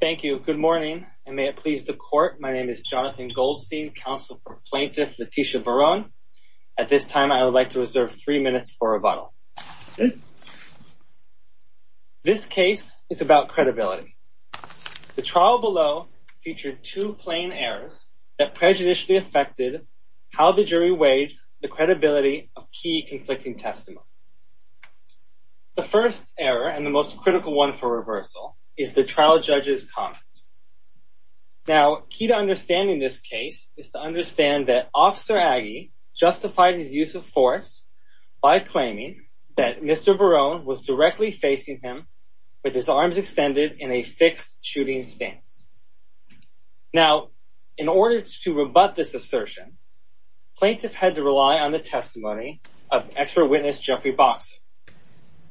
Thank you. Good morning, and may it please the court. My name is Jonathan Goldstein, counsel for Plaintiff Leticia Barron. At this time, I would like to reserve three minutes for rebuttal. This case is about credibility. The trial below featured two plain errors that prejudicially affected how the jury weighed the credibility of key conflicting testimonies. The first error, and the most critical one for reversal, is the trial judge's comment. Now, key to understanding this case is to understand that Officer Aggie justified his use of force by claiming that Mr. Barron was directly facing him with his arms extended in a fixed shooting stance. Now, in order to rebut this assertion, plaintiff had to rely on the testimony of expert witness Jeffrey Boxer.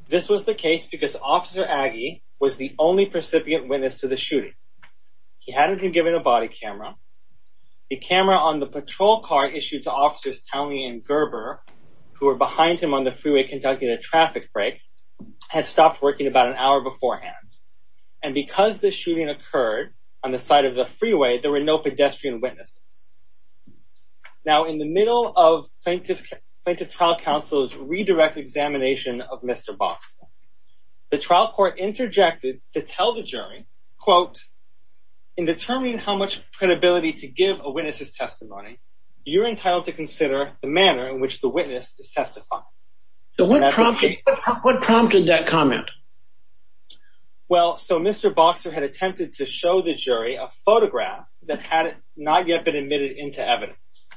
This was the case because Officer Aggie was the only recipient witness to the shooting. He hadn't been given a body camera. The camera on the patrol car issued to Officers Townley and Gerber, who were behind him on the freeway conducting a traffic break, had stopped working about an hour beforehand. And because the shooting occurred on the side of the freeway, there were no pedestrian witnesses. Now, in the middle of Plaintiff Trial Counsel's redirect examination of Mr. Boxer, the trial court interjected to tell the jury, quote, in determining how much credibility to give a witness's testimony, you're entitled to consider the manner in which the witness is testifying. So what prompted that comment? Well, so Mr. Boxer had attempted to show the jury a photograph that had not yet been admitted into evidence.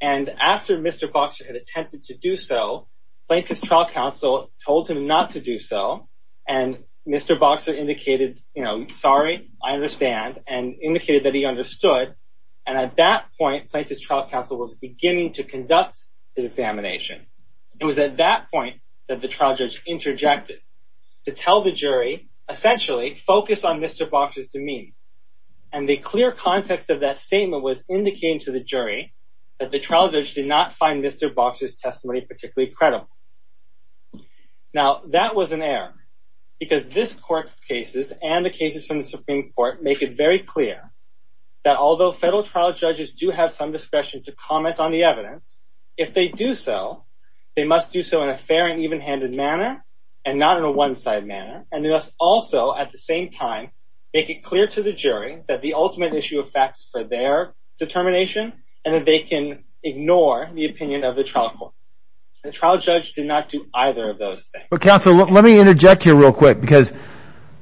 And after Mr. Boxer had attempted to do so, Plaintiff's Trial Counsel told him not to do so. And Mr. Boxer indicated, you know, sorry, I understand and indicated that he understood. And at that point, Plaintiff's Trial Counsel was beginning to conduct his examination. It was at that point that the trial judge interjected to tell the jury, essentially, focus on Mr. Boxer's demeanor. And the clear context of that statement was indicating to the jury that the trial judge did not find Mr. Boxer's testimony particularly credible. Now, that was an error. Because this court's cases and the cases from the Supreme Court make it very clear that although federal trial judges do have some discretion to comment on the evidence, if they do so, they must do so in a fair and even-handed manner and not in a one-side manner. And they must also, at the same time, make it clear to the jury that the ultimate issue of fact is for their determination and that they can ignore the opinion of the trial court. The trial judge did not do either of those things. Counsel, let me interject here real quick. Because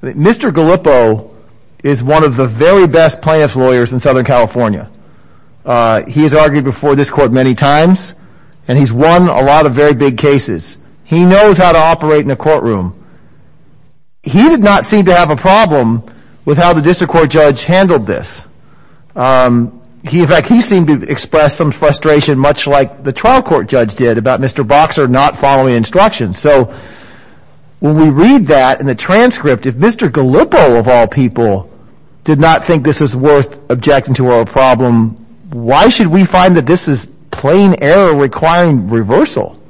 Mr. Gallippo is one of the very best plaintiff's lawyers in Southern California. He has argued before this court many times. And he's won a lot of very big cases. He knows how to operate in a courtroom. He did not seem to have a problem with how the district court judge handled this. In fact, he seemed to express some frustration, much like the trial court judge did, about Mr. Boxer not following instructions. So, when we read that in the transcript, if Mr. Gallippo, of all people, did not think this was worth objecting to or a problem, why should we find that this is plain error requiring reversal?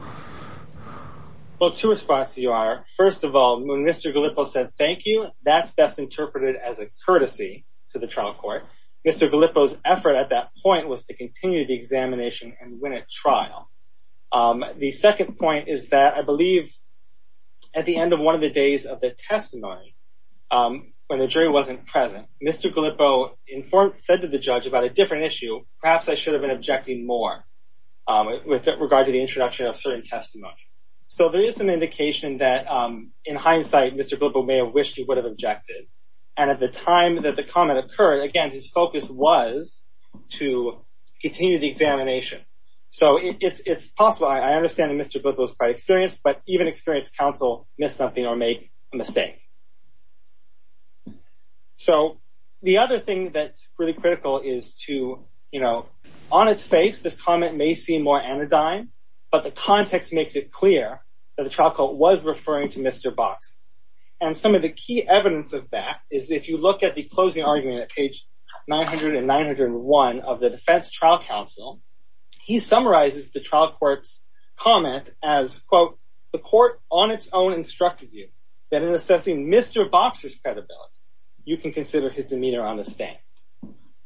Well, two responses you are. First of all, when Mr. Gallippo said, thank you, that's best interpreted as a courtesy to the trial court. Mr. Gallippo's effort at that point was to continue the examination and win at trial. The second point is that I believe at the end of one of the days of the testimony, when the jury wasn't present, Mr. Gallippo said to the judge about a different issue, perhaps I should have been objecting more with regard to the introduction of certain testimony. So, there is an indication that, in hindsight, Mr. Gallippo may have wished he would have objected. And at the time that the comment occurred, again, his focus was to continue the examination. So, it's possible, I understand that Mr. Gallippo was quite experienced, but even experienced counsel miss something or make a mistake. So, the other thing that's really critical is to, you know, on its face, this comment may seem more anodyne, but the context makes it clear that the trial court was referring to Mr. Box. And some of the key evidence of that is if you look at the closing argument at page 900 and 901 of the defense trial counsel, he summarizes the trial court's comment as, quote, the court on its own instructed you that in assessing Mr. Box's credibility, you can consider his demeanor on the stand.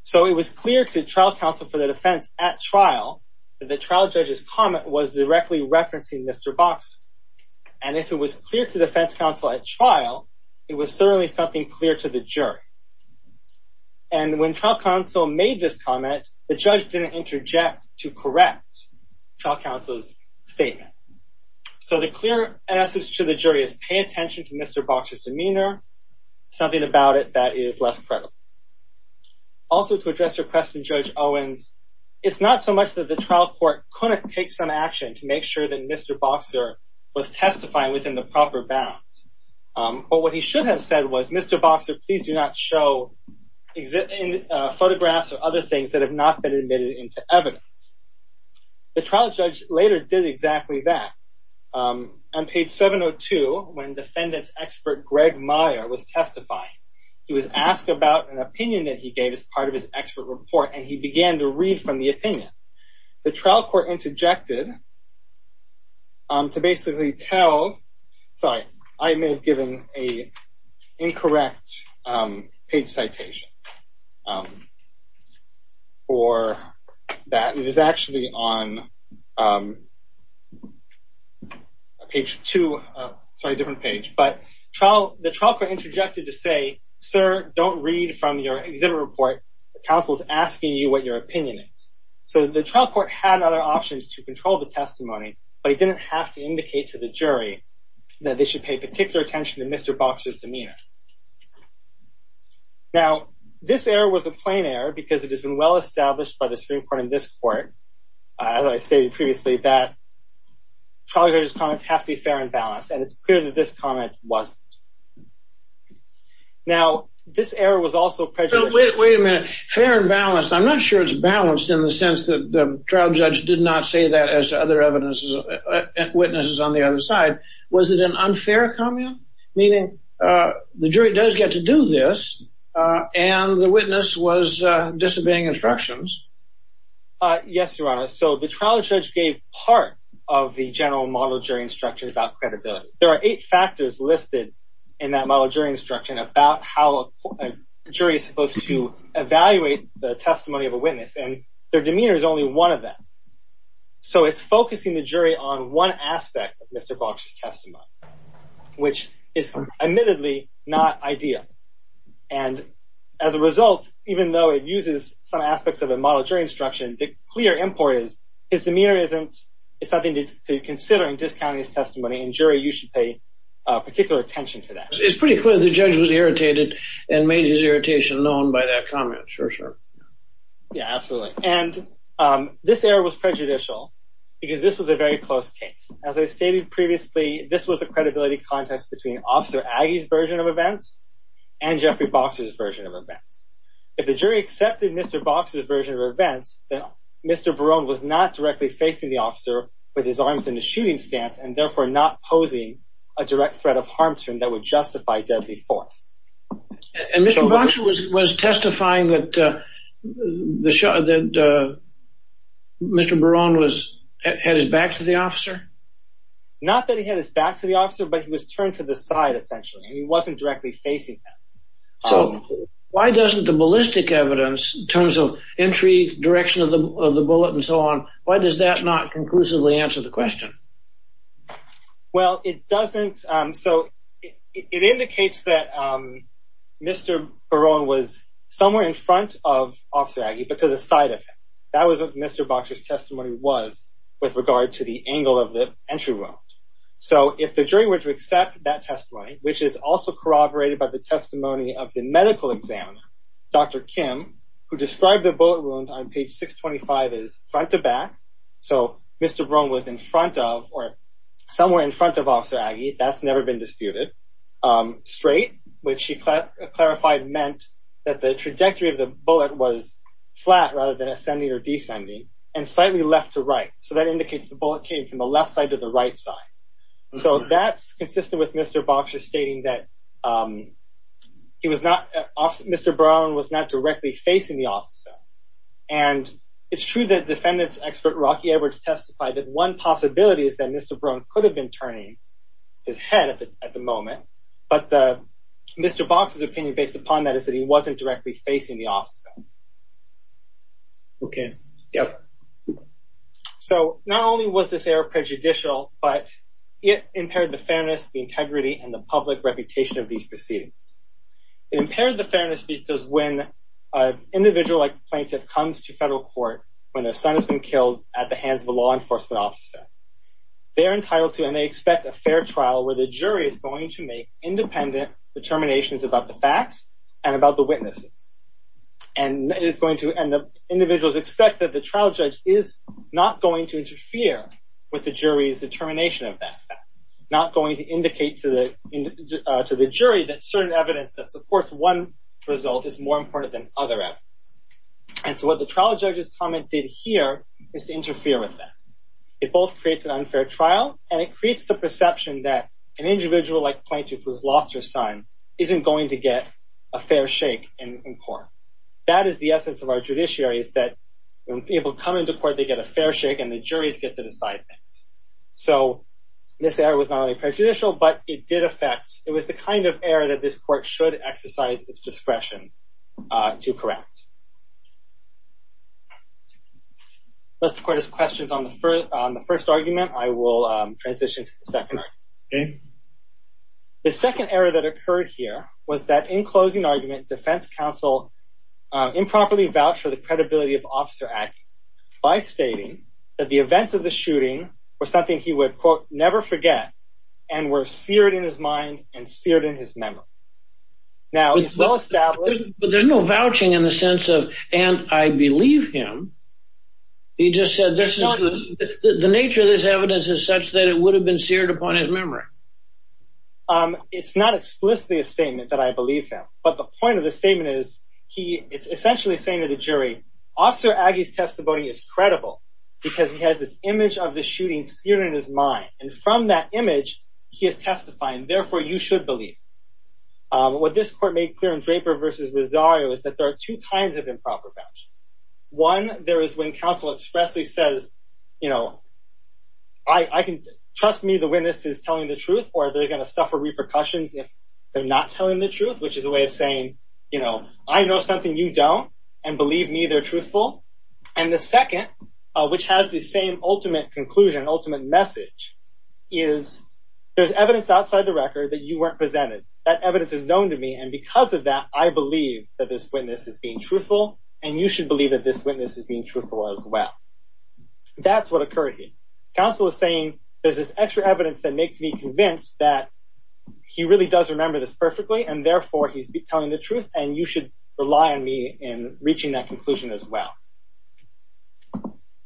So, it was clear to trial counsel for the defense at trial that the trial judge's comment was directly referencing Mr. Box. And if it was clear to defense counsel at trial, it was certainly something clear to the jury. And when trial counsel made this comment, the judge didn't interject to correct trial counsel's statement. So, the clear message to the jury is pay attention to Mr. Box's demeanor, something about it that is less credible. Also, to address your question, Judge Owens, it's not so much that the trial court couldn't take some action to make sure that Mr. Boxer was testifying within the proper bounds. But what he should have said was, Mr. Boxer, please do not show photographs or other things that have not been admitted into evidence. The trial judge later did exactly that. On page 702, when defendant's expert, Greg Meyer, was testifying, he was asked about an opinion that he gave as part of his expert report. And he began to read from the opinion. The trial court interjected to basically tell – sorry, I may have given an incorrect page citation for that. It is actually on page two – sorry, different page. But the trial court interjected to say, sir, don't read from your exhibit report. Counsel is asking you what your opinion is. So, the trial court had other options to control the testimony, but it didn't have to indicate to the jury that they should pay particular attention to Mr. Boxer's demeanor. Now, this error was a plain error because it has been well established by the Supreme Court and this court, as I stated previously, that trial judge's comments have to be fair and balanced. And it's clear that this comment wasn't. Now, this error was also prejudicial – Wait a minute. Fair and balanced. I'm not sure it's balanced in the sense that the trial judge did not say that as to other witnesses on the other side. Was it an unfair comment, meaning the jury does get to do this and the witness was disobeying instructions? Yes, Your Honor. So, the trial judge gave part of the general model jury instruction about credibility. There are eight factors listed in that model jury instruction about how a jury is supposed to evaluate the testimony of a witness, and their demeanor is only one of them. So, it's focusing the jury on one aspect of Mr. Boxer's testimony, which is admittedly not ideal. And as a result, even though it uses some aspects of a model jury instruction, the clear import is his demeanor isn't – it's nothing to consider in discounting his testimony, and jury, you should pay particular attention to that. It's pretty clear the judge was irritated and made his irritation known by that comment. Sure, sure. Yeah, absolutely. And this error was prejudicial because this was a very close case. As I stated previously, this was a credibility contest between Officer Aggie's version of events and Jeffrey Boxer's version of events. If the jury accepted Mr. Boxer's version of events, then Mr. Barone was not directly facing the officer with his arms in the shooting stance and therefore not posing a direct threat of harm to him that would justify deadly force. And Mr. Boxer was testifying that Mr. Barone had his back to the officer? Not that he had his back to the officer, but he was turned to the side, essentially, and he wasn't directly facing him. So, why doesn't the ballistic evidence, in terms of entry, direction of the bullet, and so on, why does that not conclusively answer the question? Well, it doesn't. So, it indicates that Mr. Barone was somewhere in front of Officer Aggie, but to the side of him. That was what Mr. Boxer's testimony was with regard to the angle of the entry wound. So, if the jury were to accept that testimony, which is also corroborated by the testimony of the medical examiner, Dr. Kim, who described the bullet wound on page 625 as front to back. So, Mr. Barone was in front of, or somewhere in front of Officer Aggie. That's never been disputed. Straight, which she clarified meant that the trajectory of the bullet was flat rather than ascending or descending, and slightly left to right. So, that indicates the bullet came from the left side to the right side. So, that's consistent with Mr. Boxer stating that Mr. Barone was not directly facing the officer. And, it's true that defendants expert Rocky Edwards testified that one possibility is that Mr. Barone could have been turning his head at the moment, but Mr. Boxer's opinion based upon that is that he wasn't directly facing the officer. So, not only was this error prejudicial, but it impaired the fairness, the integrity, and the public reputation of these proceedings. It impaired the fairness because when an individual like a plaintiff comes to federal court when their son has been killed at the hands of a law enforcement officer, they're entitled to and they expect a fair trial where the jury is going to make independent determinations about the facts and about the witnesses. And, the individuals expect that the trial judge is not going to interfere with the jury's determination of that fact, not going to indicate to the jury that certain evidence that supports one result is more important than other evidence. And so, what the trial judge's comment did here is to interfere with that. It both creates an unfair trial and it creates the perception that an individual like a plaintiff who has lost their son isn't going to get a fair shake in court. That is the essence of our judiciary is that when people come into court they get a fair shake and the juries get to decide things. So, this error was not only prejudicial, but it did affect, it was the kind of error that this court should exercise its discretion to correct. Unless the court has questions on the first argument, I will transition to the second argument. The second error that occurred here was that in closing argument, defense counsel improperly vouched for the credibility of Officer Atkins by stating that the events of the shooting were something he would, quote, never forget and were seared in his mind and seared in his memory. Now, it's well established. But there's no vouching in the sense of, and I believe him. He just said this is, the nature of this evidence is such that it would have been seared upon his memory. It's not explicitly a statement that I believe him. But the point of the statement is he, it's essentially saying to the jury, Officer Aggie's testimony is credible because he has this image of the shooting seared in his mind. And from that image, he is testifying. Therefore, you should believe. What this court made clear in Draper versus Rosario is that there are two kinds of improper vouching. One, there is when counsel expressly says, you know, I can, trust me, the witness is telling the truth, or they're going to suffer repercussions if they're not telling the truth, which is a way of saying, you know, I know something you don't, and believe me, they're truthful. And the second, which has the same ultimate conclusion, ultimate message, is there's evidence outside the record that you weren't presented. That evidence is known to me. And because of that, I believe that this witness is being truthful. And you should believe that this witness is being truthful as well. That's what occurred here. Counsel is saying, there's this extra evidence that makes me convinced that he really does remember this perfectly. And therefore, he's telling the truth. And you should rely on me in reaching that conclusion as well.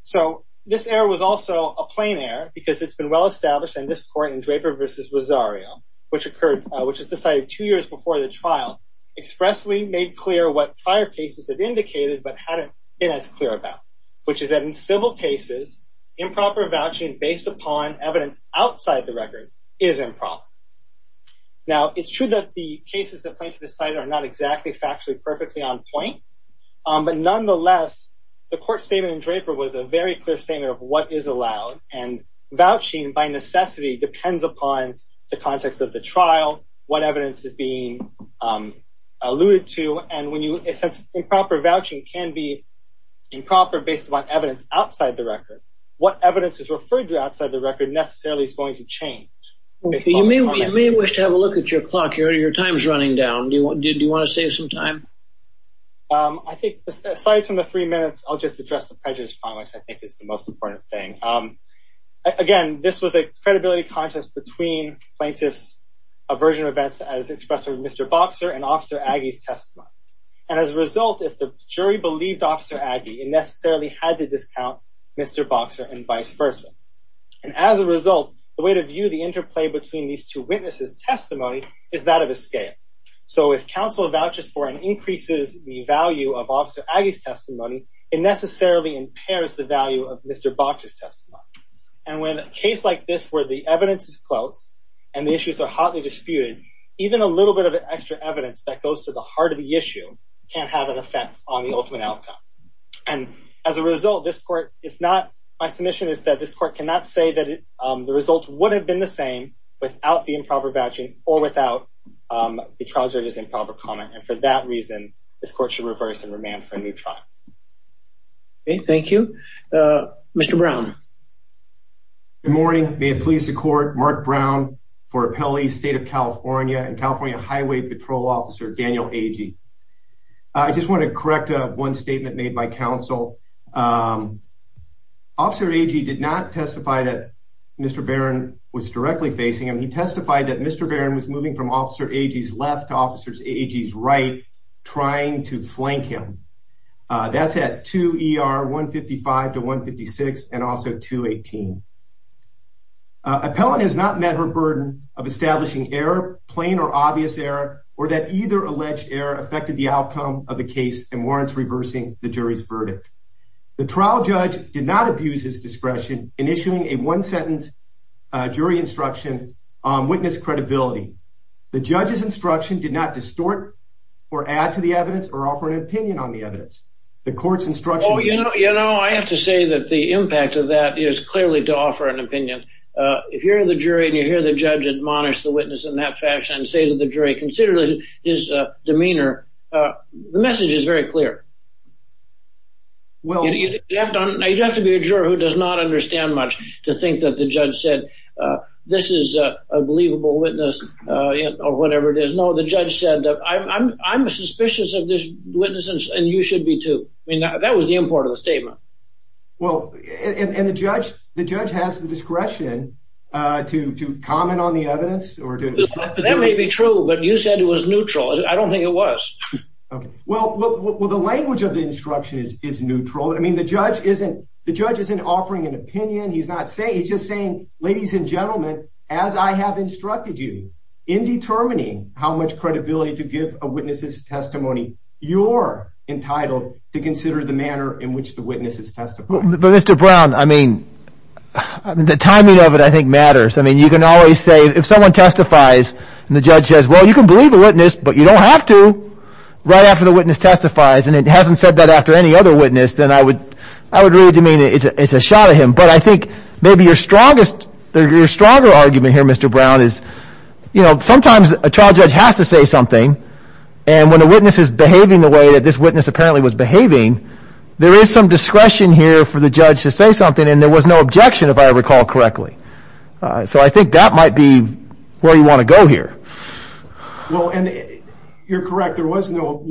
So this error was also a plain error, because it's been well established in this court in Draper versus Rosario, which occurred, which is decided two years before the trial, expressly made clear what prior cases have indicated, but hadn't been as clear about, which is that in civil cases, improper vouching based upon evidence outside the record is improper. Now, it's true that the cases that plaintiff decided are not exactly factually perfectly on point. But nonetheless, the court statement in Draper was a very clear statement of what is allowed. And vouching, by necessity, depends upon the context of the trial, what evidence is being alluded to. And since improper vouching can be improper based upon evidence outside the record, what evidence is referred to outside the record necessarily is going to change. You may wish to have a look at your clock here. Your time is running down. Do you want to save some time? I think, aside from the three minutes, I'll just address the prejudice point, which I think is the most important thing. Again, this was a credibility contest between plaintiff's version of events as expressed by Mr. Boxer and Officer Aggie's testimony. And as a result, if the jury believed Officer Aggie, it necessarily had to discount Mr. Boxer and vice versa. And as a result, the way to view the interplay between these two witnesses' testimony is that of a scale. So if counsel vouches for and increases the value of Officer Aggie's testimony, it necessarily impairs the value of Mr. Boxer's testimony. And when a case like this where the evidence is close and the issues are hotly disputed, even a little bit of extra evidence that goes to the heart of the issue can have an effect on the ultimate outcome. And as a result, my submission is that this court cannot say that the results would have been the same without the improper vouching or without the trial judge's improper comment. And for that reason, this court should reverse and remand for a new trial. Okay, thank you. Mr. Brown. Good morning. May it please the court, Mark Brown for Appellee State of California and California Highway Patrol Officer Daniel Aggie. I just want to correct one statement made by counsel. Officer Aggie did not testify that Mr. Barron was directly facing him. He testified that Mr. Barron was moving from Officer Aggie's left to Officer Aggie's right, trying to flank him. That's at 2 ER 155 to 156 and also 218. Appellant has not met her burden of establishing error, plain or obvious error, or that either alleged error affected the outcome of the case and warrants reversing the jury's verdict. The trial judge did not abuse his discretion in issuing a one-sentence jury instruction on witness credibility. The judge's instruction did not distort or add to the evidence or offer an opinion on the evidence. The court's instruction... Oh, you know, I have to say that the impact of that is clearly to offer an opinion. If you're the jury and you hear the judge admonish the witness in that fashion and say to the jury, considering his demeanor, the message is very clear. Well... You have to be a juror who does not understand much to think that the judge said, this is a believable witness or whatever it is. No, the judge said, I'm suspicious of this witness and you should be too. I mean, that was the import of the statement. Well, and the judge has the discretion to comment on the evidence or to... That may be true, but you said it was neutral. I don't think it was. Well, the language of the instruction is neutral. I mean, the judge isn't offering an opinion. He's just saying, ladies and gentlemen, as I have instructed you, in determining how much credibility to give a witness's testimony, you're entitled to consider the manner in which the witness is testifying. But Mr. Brown, I mean, the timing of it, I think, matters. I mean, you can always say, if someone testifies and the judge says, well, you can believe the witness, but you don't have to, right after the witness testifies, and it hasn't said that after any other witness, then I would really demean it. It's a shot at him. But I think maybe your strongest... Your stronger argument here, Mr. Brown, is, you know, sometimes a trial judge has to say something, and when the witness is behaving the way that this witness apparently was behaving, there is some discretion here for the judge to say something, and there was no objection, if I recall correctly. So I think that might be where you want to go here. Well, and you're correct. There was no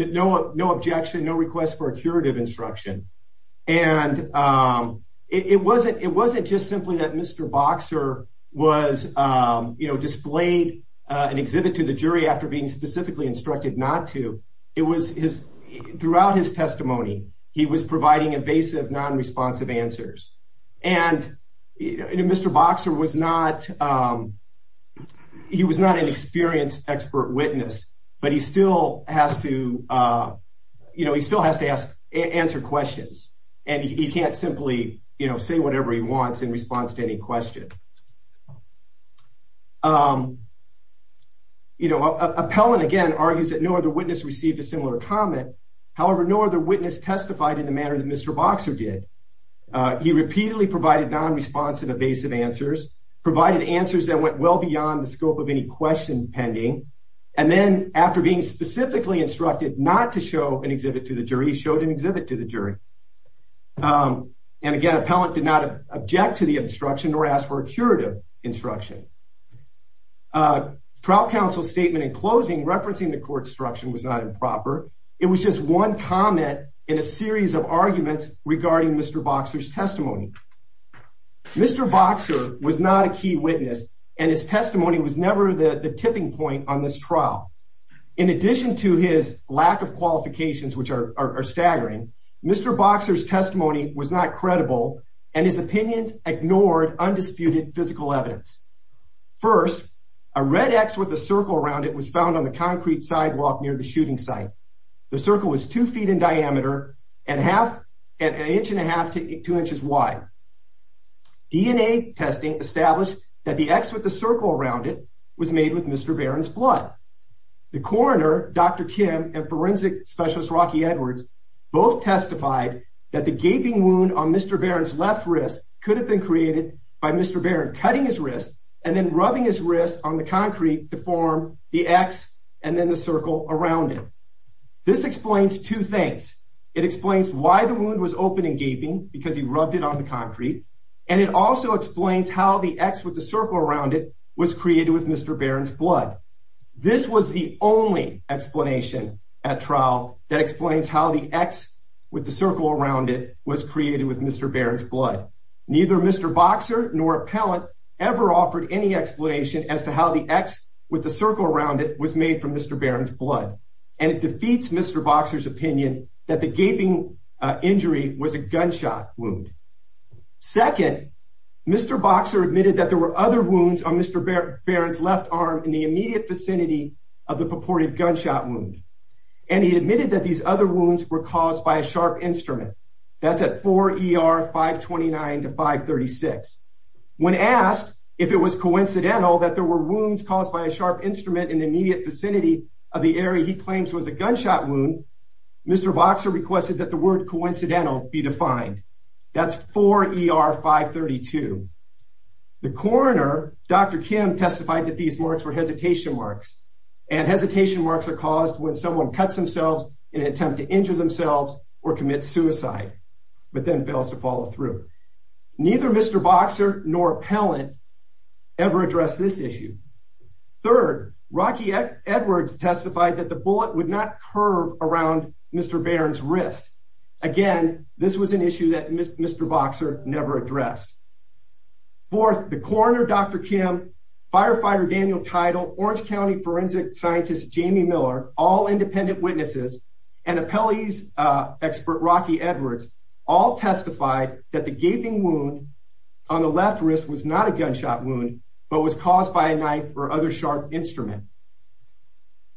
objection, no request for a curative instruction. And it wasn't just simply that Mr. Boxer was, you know, displayed an exhibit to the jury after being specifically instructed not to. It was his... Throughout his testimony, he was providing evasive, non-responsive answers. And, you know, Mr. Boxer was not an experienced expert witness, but he still has to, you know, he still has to answer questions, and he can't simply, you know, say whatever he wants in response to any question. You know, Appellant, again, argues that no other witness received a similar comment. However, no other witness testified in the manner that Mr. Boxer did. He repeatedly provided non-responsive, evasive answers, provided answers that went well beyond the scope of any question pending, and then after being specifically instructed not to show an exhibit to the jury, he showed an exhibit to the jury. And, again, Appellant did not object to the instruction nor ask for a curative instruction. Trial counsel's statement in closing referencing the court's instruction was not improper. It was just one comment in a series of arguments regarding Mr. Boxer's testimony. Mr. Boxer was not a key witness, and his testimony was never the tipping point on this trial. In addition to his lack of qualifications, which are staggering, Mr. Boxer's testimony was not credible, and his opinions ignored undisputed physical evidence. First, a red X with a circle around it was found on the concrete sidewalk near the shooting site. The circle was two feet in diameter and an inch and a half to two inches wide. DNA testing established that the X with the circle around it was made with Mr. Barron's blood. The coroner, Dr. Kim, and forensic specialist Rocky Edwards both testified that the gaping wound on Mr. Barron's left wrist could have been created by Mr. Barron cutting his wrist and then rubbing his wrist on the concrete to form the X and then the circle around it. This explains two things. It explains why the wound was open and gaping, because he rubbed it on the concrete, and it also explains how the X with the circle around it was created with Mr. Barron's blood. This was the only explanation at trial that explains how the X with the circle around it was created with Mr. Barron's blood. Neither Mr. Boxer nor appellant ever offered any explanation as to how the X with the circle around it was made from Mr. Barron's blood, and it defeats Mr. Boxer's opinion that the gaping injury was a gunshot wound. Second, Mr. Boxer admitted that there were other wounds on Mr. Barron's left arm in the immediate vicinity of the purported gunshot wound, and he admitted that these other wounds were caused by a sharp instrument. That's at 4 ER 529 to 536. When asked if it was coincidental that there were wounds caused by a sharp instrument in the immediate vicinity of the area he claims was a gunshot wound, Mr. Boxer requested that the word coincidental be defined. That's 4 ER 532. The coroner, Dr. Kim, testified that these marks were hesitation marks, and hesitation marks are caused when someone cuts themselves in an attempt to injure themselves or commit suicide, but then fails to follow through. Neither Mr. Boxer nor appellant ever addressed this issue. Third, Rocky Edwards testified that the bullet would not curve around Mr. Barron's wrist. Again, this was an issue that Mr. Boxer never addressed. Fourth, the coroner, Dr. Kim, firefighter Daniel Teitel, Orange County forensic scientist Jamie Miller, all independent witnesses, and appellee's expert Rocky Edwards all testified that the gaping wound on the left wrist was not a gunshot wound but was caused by a knife or other sharp instrument.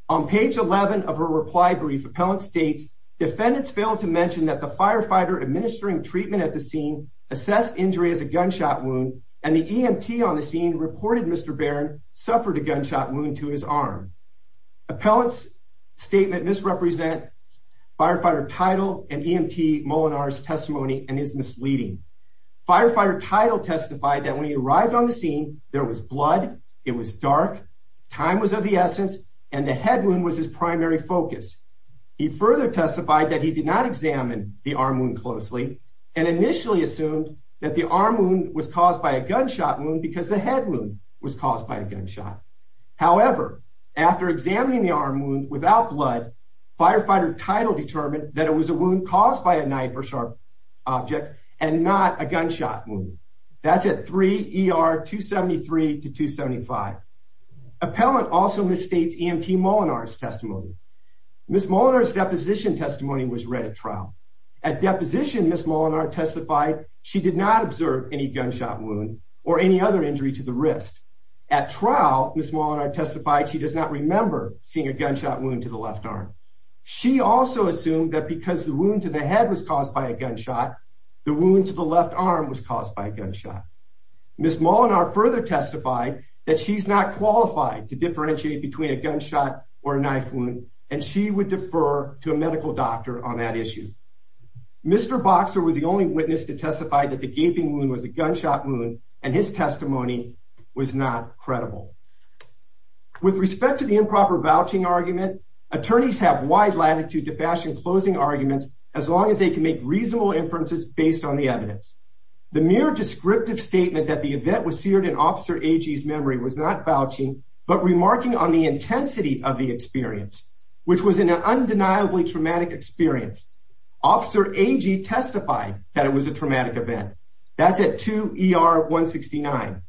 On page 11 of her reply brief, appellant states, defendants failed to mention that the firefighter administering treatment at the scene assessed injury as a gunshot wound, and the EMT on the scene reported Mr. Barron suffered a gunshot wound to his arm. Appellant's statement misrepresents firefighter Teitel and EMT Molinar's testimony and is misleading. Firefighter Teitel testified that when he arrived on the scene, there was blood, it was dark, time was of the essence, and the head wound was his primary focus. He further testified that he did not examine the arm wound closely and initially assumed that the arm wound was caused by a gunshot wound because the head wound was caused by a gunshot. However, after examining the arm wound without blood, firefighter Teitel determined that it was a wound caused by a knife or sharp object and not a gunshot wound. That's at 3 ER 273 to 275. Appellant also misstates EMT Molinar's testimony. Ms. Molinar's deposition testimony was read at trial. At deposition, Ms. Molinar testified she did not observe any gunshot wound or any other injury to the wrist. At trial, Ms. Molinar testified she does not remember seeing a gunshot wound to the left arm. She also assumed that because the wound to the head was caused by a gunshot, the wound to the left arm was caused by a gunshot. Ms. Molinar further testified that she's not qualified to differentiate between a gunshot or a knife wound, and she would defer to a medical doctor on that issue. Mr. Boxer was the only witness to testify that the gaping wound was a gunshot wound, and his testimony was not credible. With respect to the improper vouching argument, attorneys have wide latitude to fashion closing arguments as long as they can make reasonable inferences based on the evidence. The mere descriptive statement that the event was seared in Officer Agee's memory was not vouching, but remarking on the intensity of the experience, which was an undeniably traumatic experience. Officer Agee testified that it was a traumatic event. That's at 2 ER 169.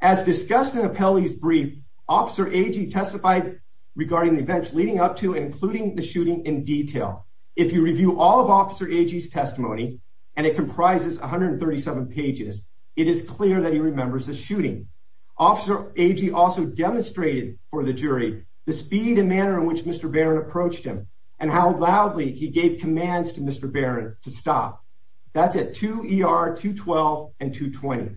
As discussed in Appelli's brief, Officer Agee testified regarding the events leading up to and including the shooting in detail. If you review all of Officer Agee's testimony, and it comprises 137 pages, it is clear that he remembers the shooting. Officer Agee also demonstrated for the jury the speed and manner in which Mr. Barron approached him, and how loudly he gave commands to Mr. Barron to stop. That's at 2 ER 212 and 220.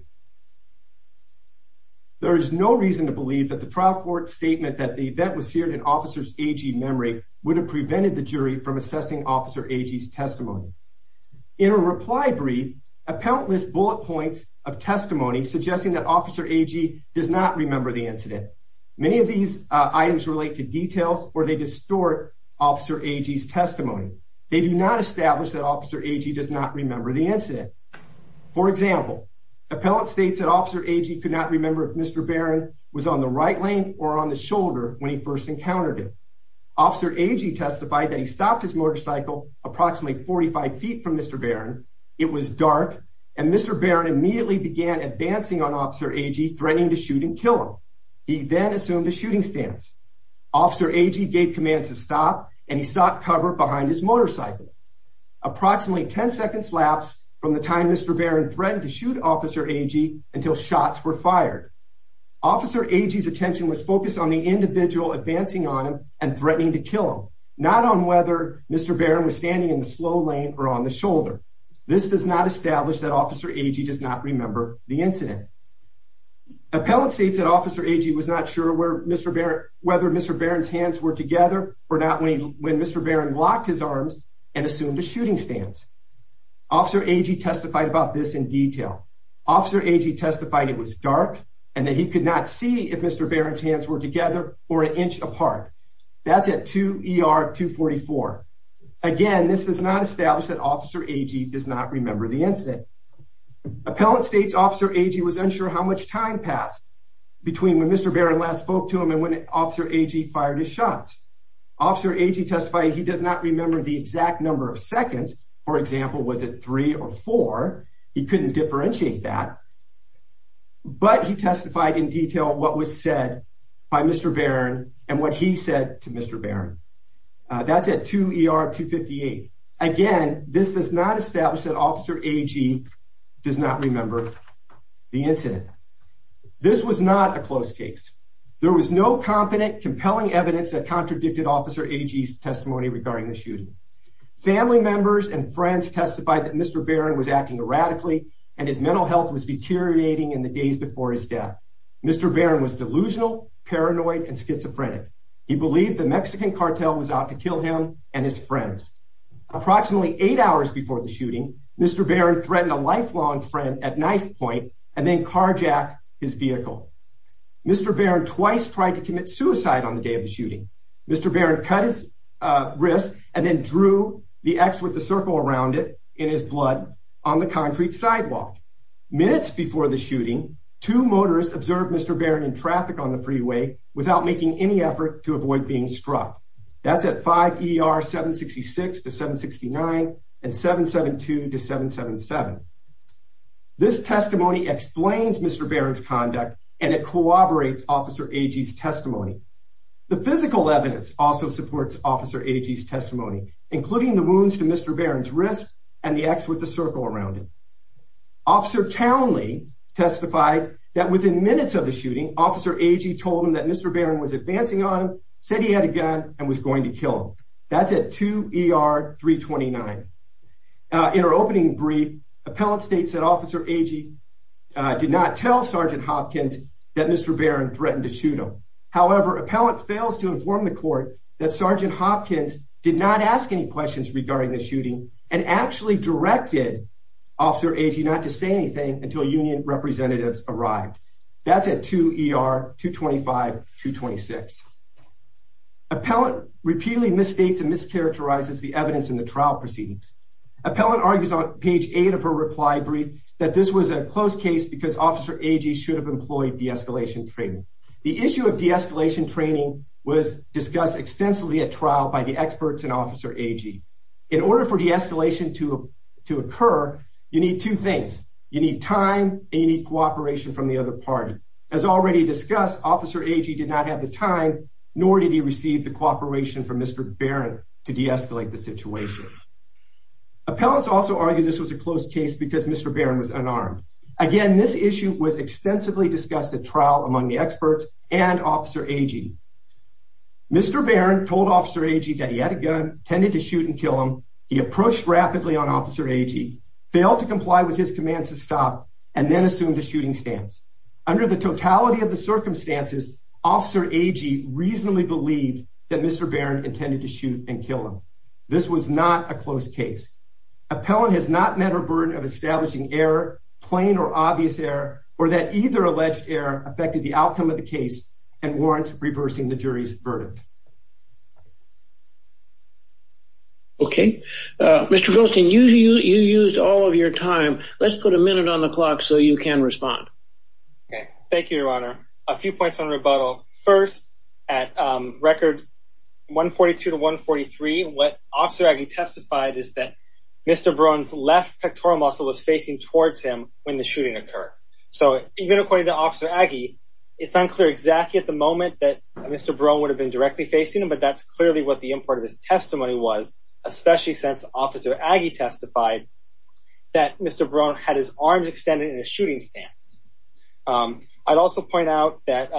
There is no reason to believe that the trial court statement that the event was seared in Officer Agee's memory would have prevented the jury from assessing Officer Agee's testimony. In a reply brief, appellate lists bullet points of testimony suggesting that Officer Agee does not remember the incident. Many of these items relate to details, or they distort Officer Agee's testimony. They do not establish that Officer Agee does not remember the incident. For example, appellate states that Officer Agee could not remember if Mr. Barron was on the right lane or on the shoulder when he first encountered him. Officer Agee testified that he stopped his motorcycle approximately 45 feet from Mr. Barron, it was dark, and Mr. Barron immediately began advancing on Officer Agee, threatening to shoot and kill him. He then assumed a shooting stance. Officer Agee gave commands to stop, and he sought cover behind his motorcycle. Approximately 10 seconds lapsed from the time Mr. Barron threatened to shoot Officer Agee until shots were fired. Officer Agee's attention was focused on the individual advancing on him and threatening to kill him, not on whether Mr. Barron was standing in the slow lane or on the shoulder. This does not establish that Officer Agee does not remember the incident. Appellate states that Officer Agee was not sure whether Mr. Barron's hands were together or not when Mr. Barron locked his arms and assumed a shooting stance. Officer Agee testified about this in detail. Officer Agee testified it was dark and that he could not see if Mr. Barron's hands were together or an inch apart. That's at 2 ER 244. Again, this does not establish that Officer Agee does not remember the incident. Appellate states Officer Agee was unsure how much time passed between when Mr. Barron last spoke to him and when Officer Agee fired his shots. Officer Agee testified he does not remember the exact number of seconds. For example, was it 3 or 4? He couldn't differentiate that. But he testified in detail what was said by Mr. Barron and what he said to Mr. Barron. That's at 2 ER 258. Again, this does not establish that Officer Agee does not remember the incident. This was not a close case. There was no confident, compelling evidence that contradicted Officer Agee's testimony regarding the shooting. Family members and friends testified that Mr. Barron was acting erratically and his mental health was deteriorating in the days before his death. Mr. Barron was delusional, paranoid, and schizophrenic. He believed the Mexican cartel was out to kill him and his friends. Approximately 8 hours before the shooting, Mr. Barron threatened a lifelong friend at knife point and then carjacked his vehicle. Mr. Barron twice tried to commit suicide on the day of the shooting. Mr. Barron cut his wrist and then drew the X with the circle around it in his blood on the concrete sidewalk. Minutes before the shooting, two motorists observed Mr. Barron in traffic on the freeway without making any effort to avoid being struck. That's at 5 ER 766-769 and 772-777. This testimony explains Mr. Barron's conduct and it corroborates Officer Agee's testimony. The physical evidence also supports Officer Agee's testimony, including the wounds to Mr. Barron's wrist and the X with the circle around it. Officer Townley testified that within minutes of the shooting, Officer Agee told him that Mr. Barron was advancing on him, said he had a gun, and was going to kill him. That's at 2 ER 329. In our opening brief, appellant states that Officer Agee did not tell Sergeant Hopkins that Mr. Barron threatened to shoot him. However, appellant fails to inform the court that Sergeant Hopkins did not ask any questions regarding the shooting and actually directed Officer Agee not to say anything until union representatives arrived. That's at 2 ER 225-226. Appellant repeatedly misstates and mischaracterizes the evidence in the trial proceedings. Appellant argues on page 8 of her reply brief that this was a close case because Officer Agee should have employed de-escalation training. The issue of de-escalation training was discussed extensively at trial by the experts and Officer Agee. In order for de-escalation to occur, you need two things. You need time and you need cooperation from the other party. As already discussed, Officer Agee did not have the time, nor did he receive the cooperation from Mr. Barron to de-escalate the situation. Appellants also argue this was a close case because Mr. Barron was unarmed. Again, this issue was extensively discussed at trial among the experts and Officer Agee. Mr. Barron told Officer Agee that he had a gun, tended to shoot and kill him. He approached rapidly on Officer Agee, failed to comply with his commands to stop, and then assumed a shooting stance. Under the totality of the circumstances, Officer Agee reasonably believed that Mr. Barron intended to shoot and kill him. This was not a close case. Appellant has not met her burden of establishing error, plain or obvious error, or that either alleged error affected the outcome of the case and warrants reversing the jury's verdict. Okay. Mr. Goldstein, you used all of your time. Let's put a minute on the clock so you can respond. Okay. Thank you, Your Honor. A few points on rebuttal. First, at record 142 to 143, what Officer Agee testified is that Mr. Barron's left pectoral muscle was facing towards him when the shooting occurred. So even according to Officer Agee, it's unclear exactly at the moment that Mr. Barron would have been directed to shoot. He was directly facing him, but that's clearly what the import of his testimony was, especially since Officer Agee testified that Mr. Barron had his arms extended in a shooting stance. I'd also point out that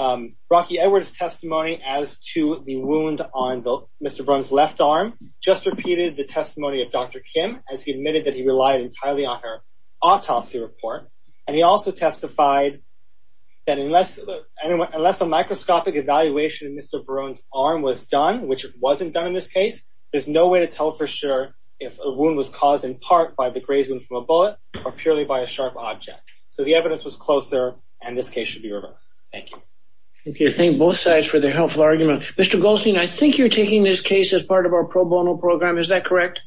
Rocky Edwards' testimony as to the wound on Mr. Barron's left arm just repeated the testimony of Dr. Kim as he admitted that he relied entirely on her autopsy report, and he also testified that unless a microscopic evaluation of Mr. Barron's arm was done, which it wasn't done in this case, there's no way to tell for sure if a wound was caused in part by the graze wound from a bullet or purely by a sharp object. So the evidence was closer, and this case should be reversed. Thank you. Thank you. Thank both sides for their helpful argument. Mr. Goldstein, I think you're taking this case as part of our pro bono program. Is that correct?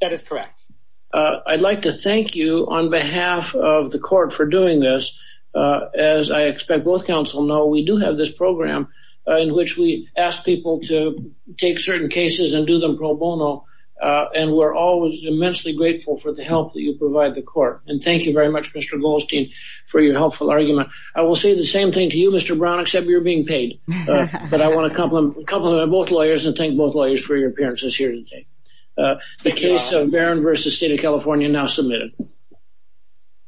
That is correct. I'd like to thank you on behalf of the court for doing this. As I expect both counsel know, we do have this program in which we ask people to take certain cases and do them pro bono, and we're always immensely grateful for the help that you provide the court. And thank you very much, Mr. Goldstein, for your helpful argument. I will say the same thing to you, Mr. Brown, except you're being paid. But I want to compliment both lawyers and thank both lawyers for your appearance this year. The case of Barron v. State of California now submitted.